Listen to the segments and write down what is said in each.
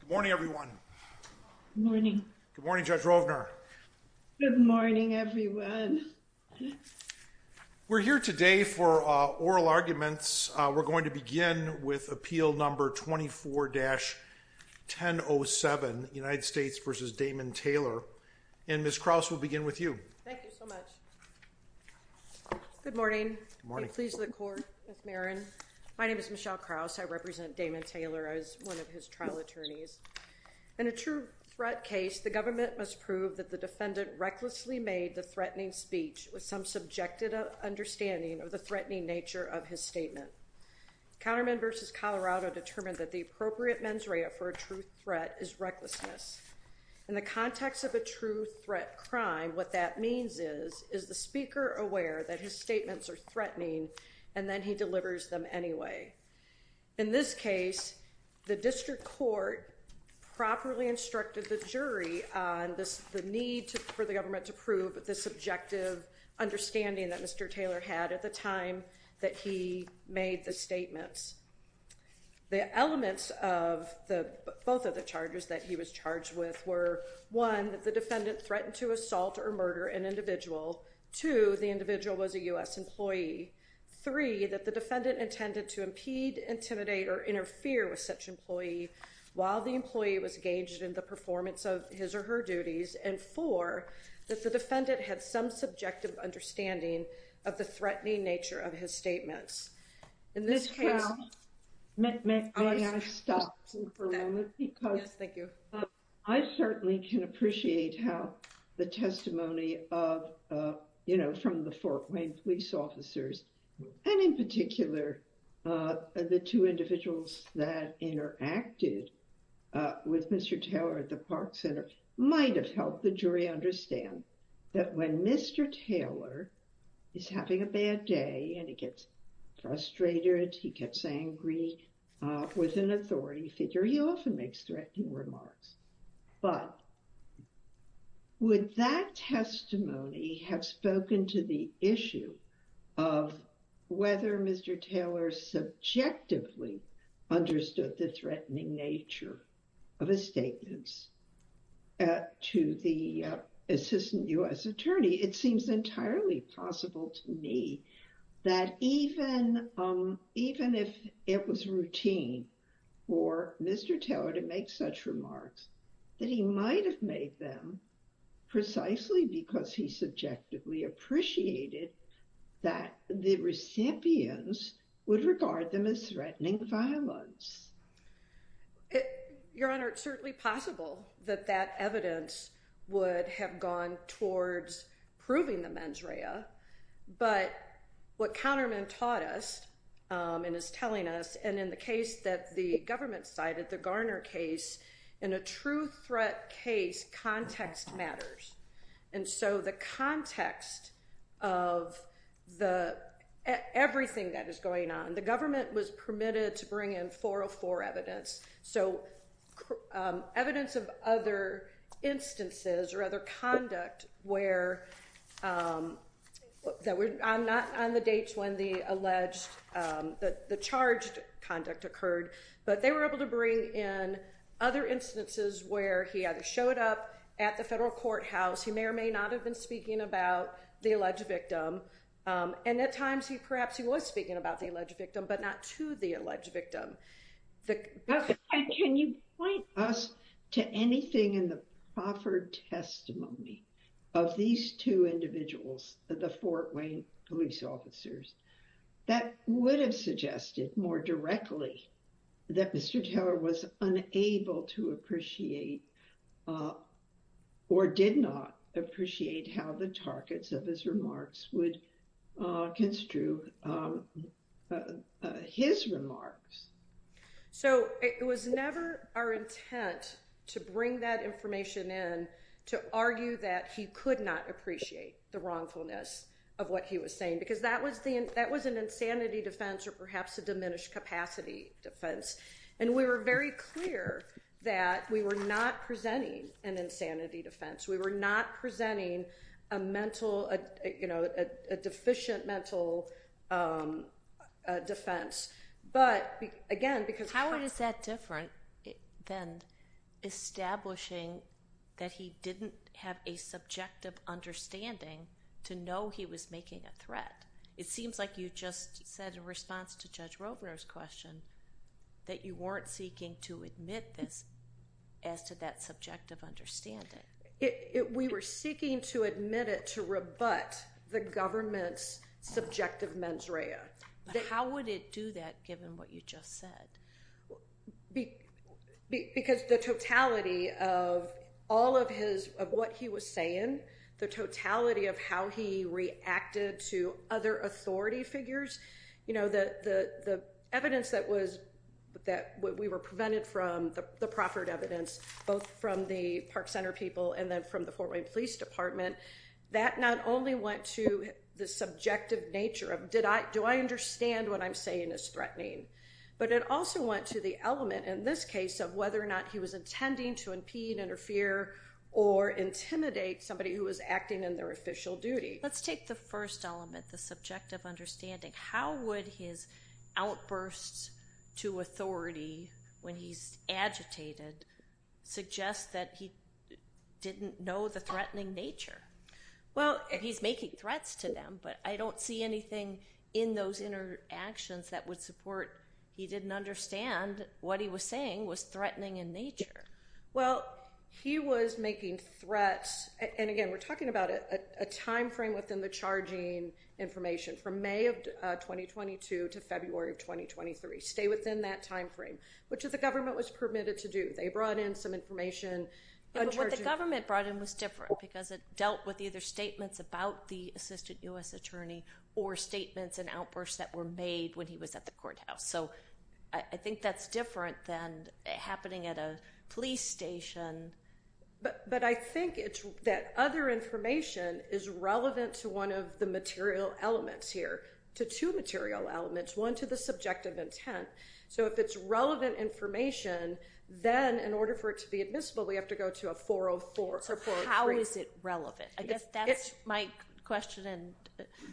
Good morning everyone. Good morning. Good morning Judge Rovner. Good morning everyone. We're here today for oral arguments. We're going to begin with appeal number 24-1007 United States v. Damon Taylor and Ms. Krause will begin with you. Thank you so much. Good morning. Good morning. Please look to the court. My name is Michelle Krause. I serve as one of his trial attorneys. In a true threat case, the government must prove that the defendant recklessly made the threatening speech with some subjected understanding of the threatening nature of his statement. Counterman v. Colorado determined that the appropriate mens rea for a true threat is recklessness. In the context of a true threat crime, what that means is, is the speaker aware that his statements are threatening and then he delivers them anyway. In this case, the district court properly instructed the jury on this the need for the government to prove the subjective understanding that Mr. Taylor had at the time that he made the statements. The elements of the both of the charges that he was charged with were, one, that the defendant threatened to assault or murder an individual. Two, the individual was a U.S. employee. Three, that the defendant intended to impede, intimidate, or interfere with such employee while the employee was engaged in the performance of his or her duties. And four, that the defendant had some subjective understanding of the threatening nature of his statements. Ms. Krause, may I stop you for a moment? Yes, thank you. I certainly can appreciate how the testimony of, you know, from the Fort Wayne police officers and in particular the two individuals that interacted with Mr. Taylor at the Park Center might have helped the jury understand that when Mr. Taylor is having a bad day and he gets frustrated, he gets angry with an authority figure, he often makes threatening remarks. But would that testimony have spoken to the issue of whether Mr. Taylor subjectively understood the threatening nature of his statements to the assistant U.S. attorney? It seems entirely possible to me that even if it was routine for Mr. Taylor to make such remarks, that he might have made them precisely because he subjectively appreciated that the recipients would regard them as threatening violence. Your Honor, it's certainly possible that that evidence would have gone towards proving the mens rea, but what Counterman taught us and is telling us, and in the case that the government cited, the Garner case, in a true threat case, context matters. And so the context of everything that is going on, the government was permitted to bring in 404 evidence, so evidence of other instances or other conduct where, not on the dates when the alleged, the charged conduct occurred, but they were able to bring in other instances where he either showed up at the federal courthouse, he may or may not have been speaking about the alleged victim, and at times he perhaps he was speaking about the alleged victim, but not to the alleged victim. Can you point us to anything in the proffered testimony of these two individuals, the Fort Wayne police officers, that would have suggested more directly that Mr. Taylor was unable to appreciate or did not appreciate how the targets of his remarks would construe his remarks? So it was never our intent to bring that information in to argue that he could not appreciate the wrongfulness of what he was saying, because that was an insanity defense or perhaps a diminished capacity defense. And we were very clear that we were not presenting an insanity defense. We were not presenting a mental, you know, a deficient mental defense. But again, because... How is that different than establishing that he didn't have a subjective understanding to know he was making a threat? It seems like you just said in response to Judge Rovner's question that you weren't seeking to admit this as to that subjective understanding. We were seeking to admit it to rebut the government's subjective mens rea. How would it do that given what you just said? Because the totality of all of his, of what he was saying, the totality of how he reacted to other authority figures, you know, the evidence that we were prevented from, the proffered evidence, both from the Park Center people and then from the Fort Wayne Police Department, that not only went to the subjective nature of, do I understand what I'm saying is threatening? But it also went to the element in this case of whether or not he was intending to impede, interfere, or intimidate somebody who was acting in their official duty. Let's take the first element, the subjective understanding. How would his outbursts to authority when he's agitated suggest that he didn't know the threatening nature? Well, he's making threats to them, but I don't see anything in those interactions that would support he didn't understand what he was saying was threatening in nature. Well, he was making threats, and again we're talking about it, a time frame within the charging information from May of 2022 to February of 2023. Stay within that time frame, which is the government was permitted to do. They brought in some information. What the government brought in was different because it dealt with either statements about the assistant U.S. attorney or statements and outbursts that were made when he was at the courthouse. So I think that's different than happening at a police station. But I think that other information is relevant to one of the material elements here, to two material elements, one to the subjective intent. So if it's relevant information, then in order for it to be admissible, we have to go to a 404. So how is it relevant? I guess that's my question, and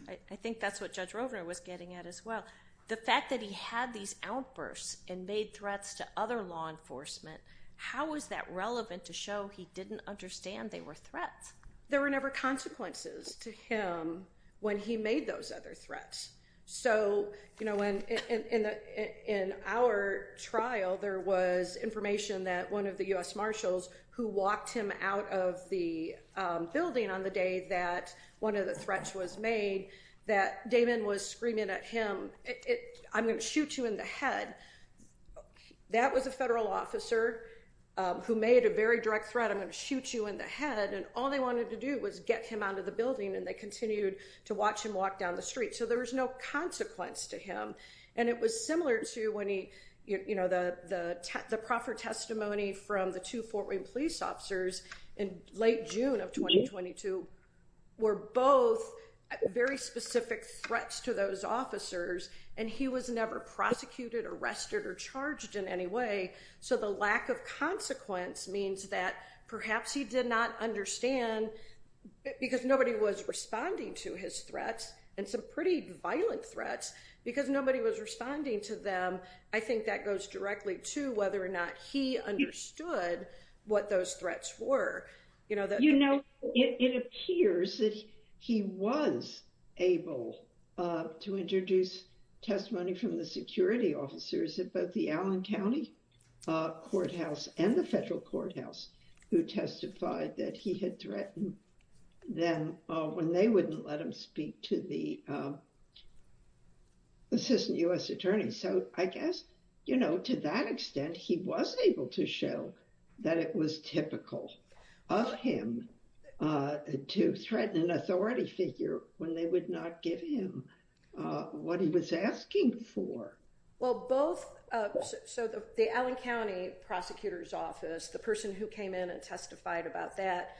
I think that's what Judge Rovner was getting at as well. The fact that he had these outbursts and made threats to other law enforcement, how is that relevant to show he didn't understand they were threats? There were never consequences to him when he made those other threats. So, you know, when in our trial, there was information that one of the U.S. Marshals who walked him out of the building on the day that one of the threats was made, that Damon was screaming at him, I'm going to shoot you in the head, that was a federal officer who made a very direct threat, I'm going to shoot you in the head, and all they wanted to do was get him out of the building, and they continued to watch him walk down the street. So there was no consequence to him. And it was similar to when he, you know, the proffer testimony from the two Fort Wayne police officers in late June of 2022 were both very specific threats to those officers, and he was never prosecuted, arrested, or charged in any way. So the lack of consequence means that perhaps he did not understand, because nobody was responding to his threats, and some pretty violent threats, because nobody was responding to them. I think that goes directly to whether or not he understood what those threats were. You know, it appears that he was able to introduce testimony from the security officers at both the Allen County Courthouse and the federal courthouse who testified that he had threatened them when they wouldn't let him speak to the assistant U.S. attorney. So I guess, you know, to that extent, he was able to show that it was typical of him to threaten an authority figure when they would not give him what he was asking for. Well, both, so the Allen County Prosecutor's Office, the person who came in and testified about that,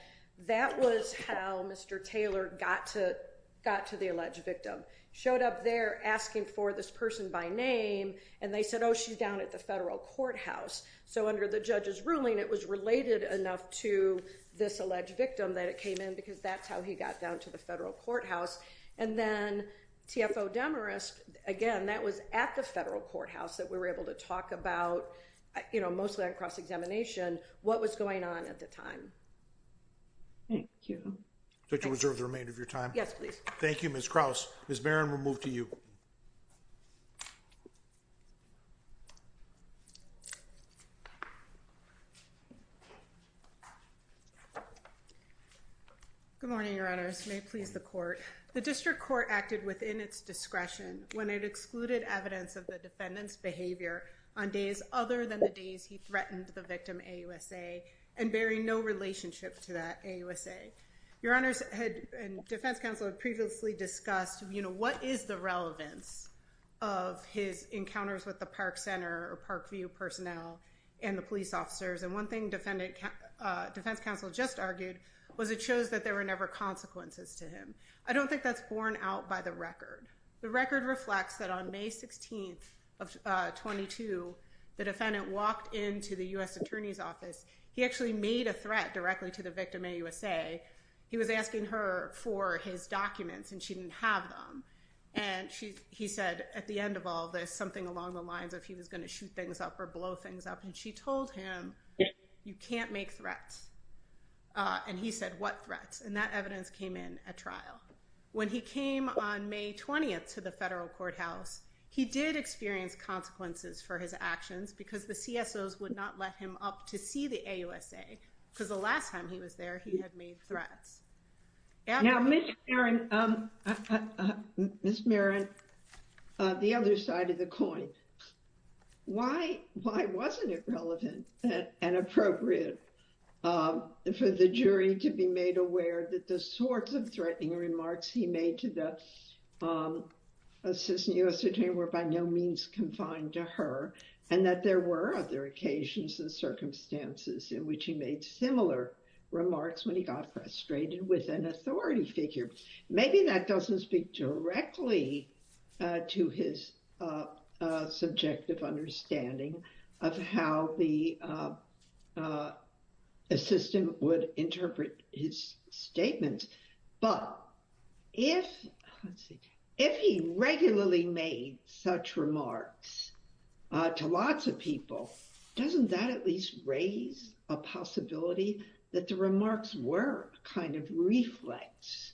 that was how Mr. Taylor got to the alleged victim. Showed up there asking for this person by name, and they said, oh, she's down at the federal courthouse. So under the judge's ruling, it was related enough to this alleged victim that it came in, because that's how he got down to the federal courthouse. And then, TFO Demarest, again, that was at the federal courthouse that we were able to talk about, you know, mostly on cross-examination, what was going on at the time. Thank you. Do I reserve the remainder of your time? Yes, please. Thank you, Ms. Krause. Ms. Barron, we'll move to you. Good morning, Your Honors. May it please the Court. The District Court acted within its discretion when it excluded evidence of the defendant's behavior on days other than the days he threatened the victim, AUSA, and bearing no relationship to that, AUSA. Your Honors, and Defense Counsel had previously discussed, you know, what is the relevance of his encounters with the Park Center or Parkview personnel and the police officers? And one thing Defense Counsel just argued was it shows that there were never consequences to him. I don't think that's borne out by the record. The record reflects that on May 16th of 22, the defendant walked into the U.S. Attorney's Office. He actually made a threat directly to the victim, AUSA. He was asking her for his documents and she didn't have them. And he said at the end of all this, something along the lines of he was going to shoot things up or blow things up. And she told him, you can't make threats. And he said, what threats? And that evidence came in at trial. When he came on May 20th to the federal courthouse, he did experience consequences for his actions because the CSOs would not let him up to see the AUSA, because the last time he was there, he had made threats. Now, Ms. Marron, the other side of the coin, why wasn't it relevant and appropriate for the jury to be made aware that the sorts of threatening remarks he made to the assistant U.S. attorney were by no means confined to her and that there were other occasions and circumstances in which he made similar remarks when he got frustrated with an authority figure? Maybe that doesn't speak directly to his subjective understanding of how the assistant would interpret his statements. But if, let's see, if he regularly made such remarks to lots of people, doesn't that at least raise a possibility that the remarks were a kind of reflex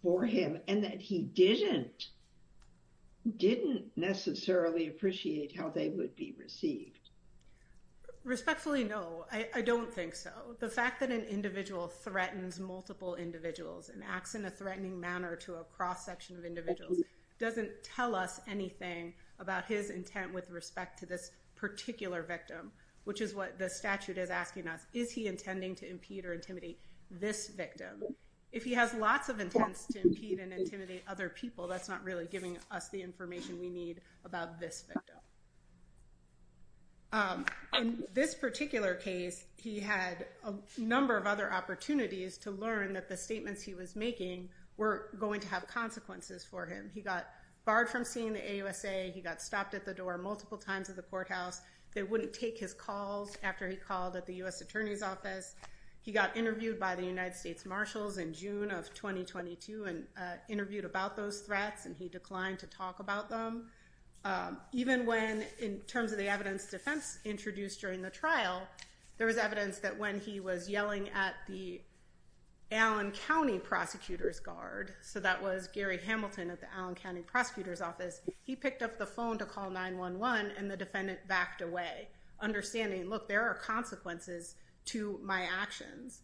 for him and that he didn't necessarily appreciate how they would be received? Respectfully, no, I don't think so. The fact that an individual threatens multiple individuals and acts in a threatening manner to a cross-section of individuals doesn't tell us anything about his intent with respect to this particular victim, which is what the statute is asking us. Is he intending to impede or intimidate this victim? If he has lots of intents to impede and intimidate other people, that's not really giving us the information we need about this victim. In this particular case, he had a number of other opportunities to learn that the statements he was making were going to have consequences for him. He got barred from seeing the AUSA. He got stopped at the door multiple times at the courthouse. They wouldn't take his calls after he called at the U.S. Attorney's Office. He got interviewed by the United States Marshals in June of 2022 and interviewed about those threats and he declined to talk about them. Even when, in terms of the evidence defense introduced during the trial, there was evidence that when he was yelling at the Allen County Prosecutor's Guard, so that was Gary Hamilton at the Allen County Prosecutor's Office, he picked up the phone to call 911 and the defendant backed away, understanding, look, there are consequences to my actions.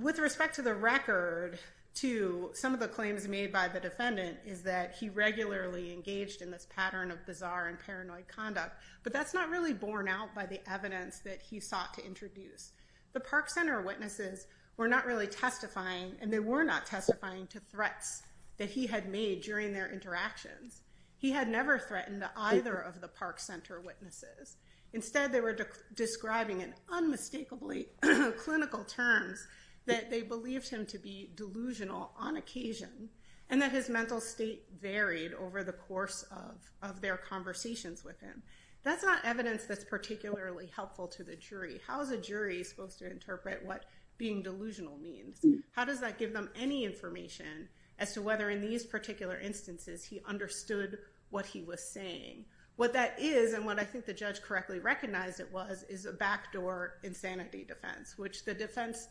With respect to the record, to some of the claims made by the defendant is that he regularly engaged in this pattern of bizarre and paranoid conduct, but that's not really borne out by the evidence that he sought to introduce. The Park Center witnesses were not really testifying and they were not testifying to threats that he had made during their interactions. He had never threatened either of the Park Center witnesses. Instead, they were describing in unmistakably clinical terms that they believed him to be delusional on occasion and that his mental state varied over the course of their conversations with him. That's not evidence that's particularly helpful to the jury. How is a jury supposed to interpret what being delusional means? How does that give them any information as to whether in these particular instances he understood what he was saying? What that is, and what I think the judge correctly recognized it was, is a backdoor insanity defense, which the defense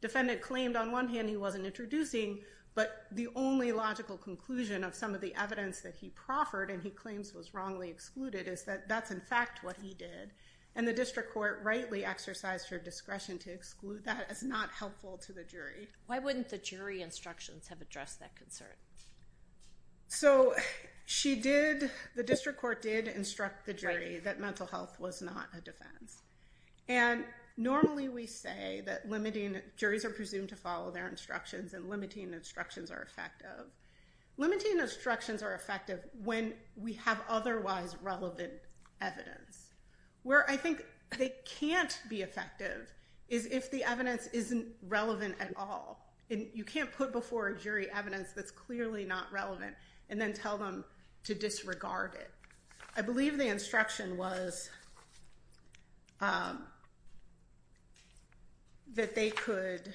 defendant claimed on one hand he wasn't introducing, but the only logical conclusion of some of the evidence that he proffered and he claims was wrongly excluded is that that's in fact what he did. And the district court rightly exercised her discretion to exclude that as not helpful to the jury. Why wouldn't the jury instructions have addressed that concern? So she did, the district court did instruct the jury that mental health was not a And normally we say that limiting, juries are presumed to follow their instructions and limiting instructions are effective. Limiting instructions are effective when we have otherwise relevant evidence. Where I think they can't be effective is if the evidence isn't relevant at all. And you can't put before a jury evidence that's clearly not relevant and then tell them to disregard it. I believe the instruction was that they could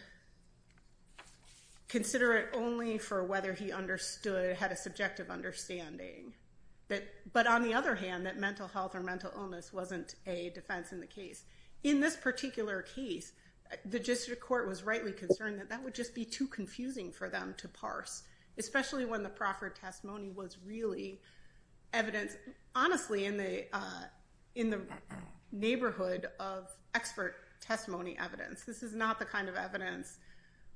consider it only for whether he understood, had a subjective understanding. But on the other hand, that mental health or mental illness wasn't a defense in the In this particular case, the district court was rightly concerned that that would just be too confusing for them to parse, especially when the proffered testimony was really evidence, honestly, in the in the neighborhood of expert testimony evidence. This is not the kind of evidence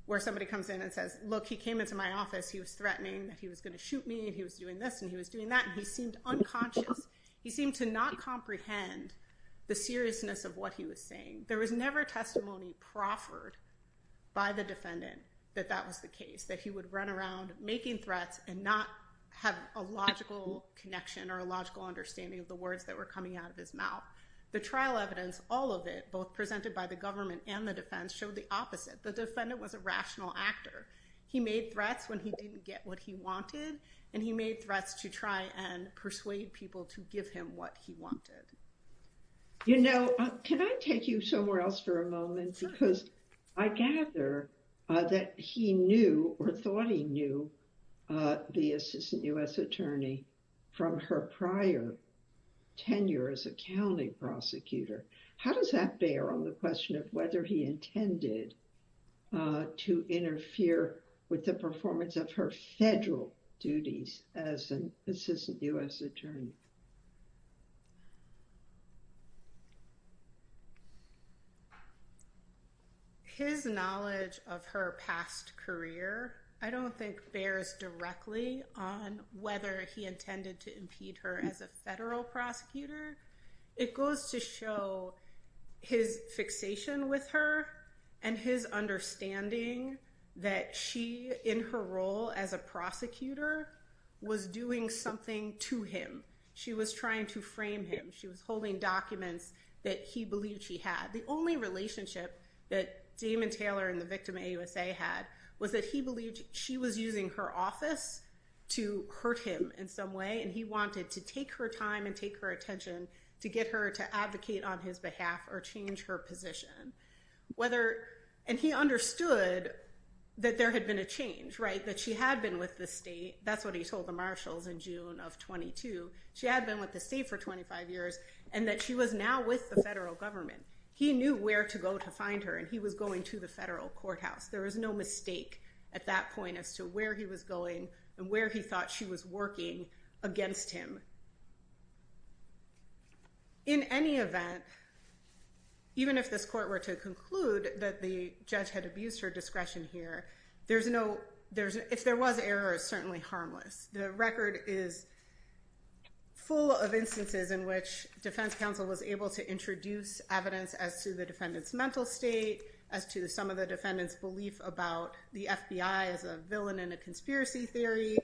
where somebody comes in and says, look, he came into my office, he was threatening that he was going to shoot me and he was doing this and he was doing that. He seemed unconscious. He seemed to not comprehend the seriousness of what he was saying. There was never testimony proffered by the defendant that that was the case, that he would run around making threats and not have a logical connection or a logical understanding of the words that were coming out of his mouth. The trial evidence, all of it, both presented by the government and the defense, showed the opposite. The defendant was a rational actor. He made threats when he didn't get what he wanted. And he made threats to try and persuade people to give him what he wanted. You know, can I take you somewhere else for a moment, because I gather that he knew or thought he knew the assistant U.S. attorney from her prior tenure as a county prosecutor. How does that bear on the question of whether he intended to interfere with the performance of her federal duties as an assistant U.S. attorney? His knowledge of her past career, I don't think bears directly on whether he intended to impede her as a federal prosecutor. It goes to show his fixation with her and his understanding that she, in her role as a prosecutor, was doing something to him. She was trying to frame him. She was holding documents that he believed she had. The only relationship that Damon Taylor and the victim, AUSA, had was that he believed she was using her office to hurt him in some way. And he wanted to take her time and take her attention to get her to advocate on his behalf or change her position. And he understood that there had been a change, right, that she had been with the state. That's what he told the marshals in June of 22. She had been with the state for 25 years and that she was now with the federal government. He knew where to go to find her and he was going to the federal courthouse. There was no mistake at that point as to where he was going and where he thought she was working against him. In any event, even if this court were to conclude that the judge had abused her discretion here, if there was error, it's certainly harmless. The record is full of instances in which defense counsel was able to introduce evidence as to the defendant's mental state, as to some of the defendant's belief about the FBI as a villain in a conspiracy theory,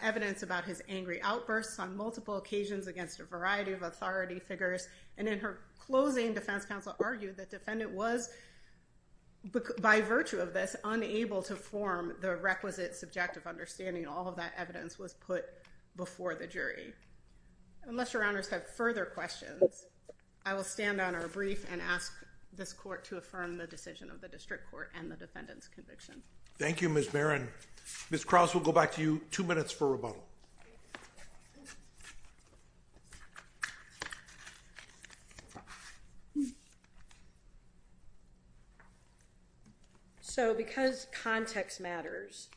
evidence about his angry outbursts on multiple occasions against a variety of authority figures. And in her closing, defense counsel argued that defendant was, by virtue of this, unable to form the requisite subjective understanding. All of that evidence was put before the jury. Unless your honors have further questions, I will stand on our brief and ask this court to affirm the decision of the district court and the defendant's conviction. Thank you, Ms. Barron. Ms. Krause, we'll go back to you. Two minutes for rebuttal. So because context matters,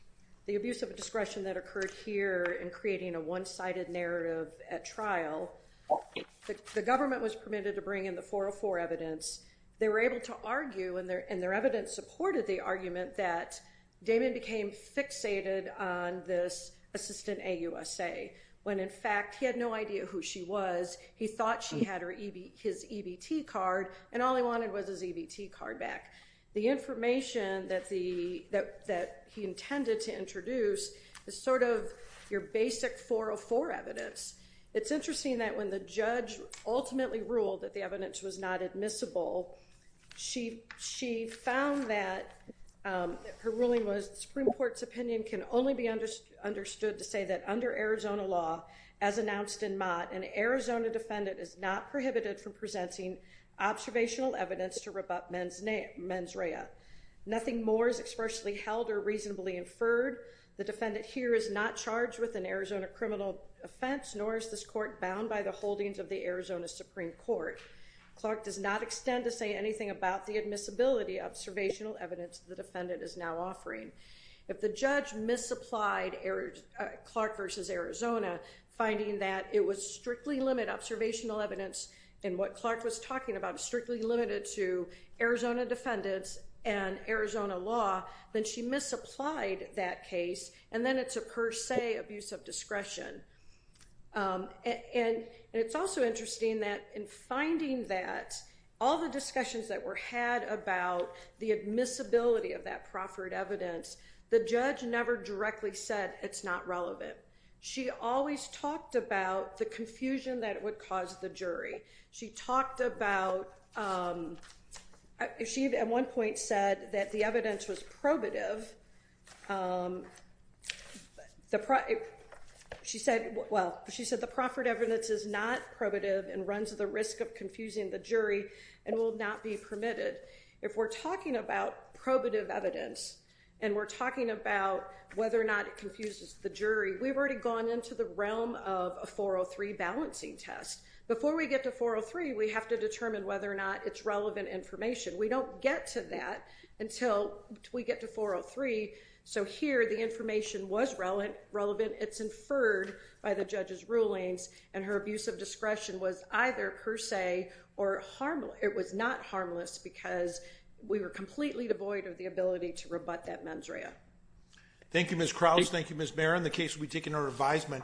the abuse of a discretion that occurred here in creating a one-sided narrative at trial, the government was permitted to bring in the 404 evidence. They were able to argue, and their evidence supported the argument, that Damon became fixated on this assistant AUSA when, in fact, he had no idea who she was. He thought she had his EBT card, and all he wanted was his EBT card back. The information that he intended to introduce is sort of your basic 404 evidence. It's interesting that when the judge ultimately ruled that the evidence was not admissible, she found that her ruling was the Supreme Court's opinion can only be understood to say that under Arizona law, as announced in Mott, an Arizona defendant is not prohibited from presenting observational evidence to rebut mens rea. Nothing more is expressly held or reasonably inferred. The defendant here is not charged with an Arizona criminal offense, nor is this court bound by the holdings of the Arizona Supreme Court. Clark does not extend to say anything about the admissibility of observational evidence the defendant is now offering. If the judge misapplied Clark v. Arizona, finding that it was strictly limited observational evidence, and what Clark was talking about was strictly limited to Arizona defendants and Arizona law, then she misapplied that case, and then it's a per se abuse of discretion. And it's also interesting that in finding that, all the discussions that were had about the admissibility of that proffered evidence, the judge never directly said it's not relevant. She always talked about the confusion that it would cause the jury. She talked about, she at one point said that the evidence was probative, she said the proffered evidence is not probative and runs the risk of confusing the jury and will not be permitted. If we're talking about probative evidence, and we're talking about whether or not it confuses the jury, we've already gone into the realm of a 403 balancing test. Before we get to 403, we have to determine whether or not it's relevant information. We don't get to that until we get to 403, so here the information was relevant, it's referred by the judge's rulings, and her abuse of discretion was either per se or harmless. It was not harmless because we were completely devoid of the ability to rebut that mens rea. Thank you, Ms. Krause. Thank you, Ms. Barron. The case will be taken under advisement.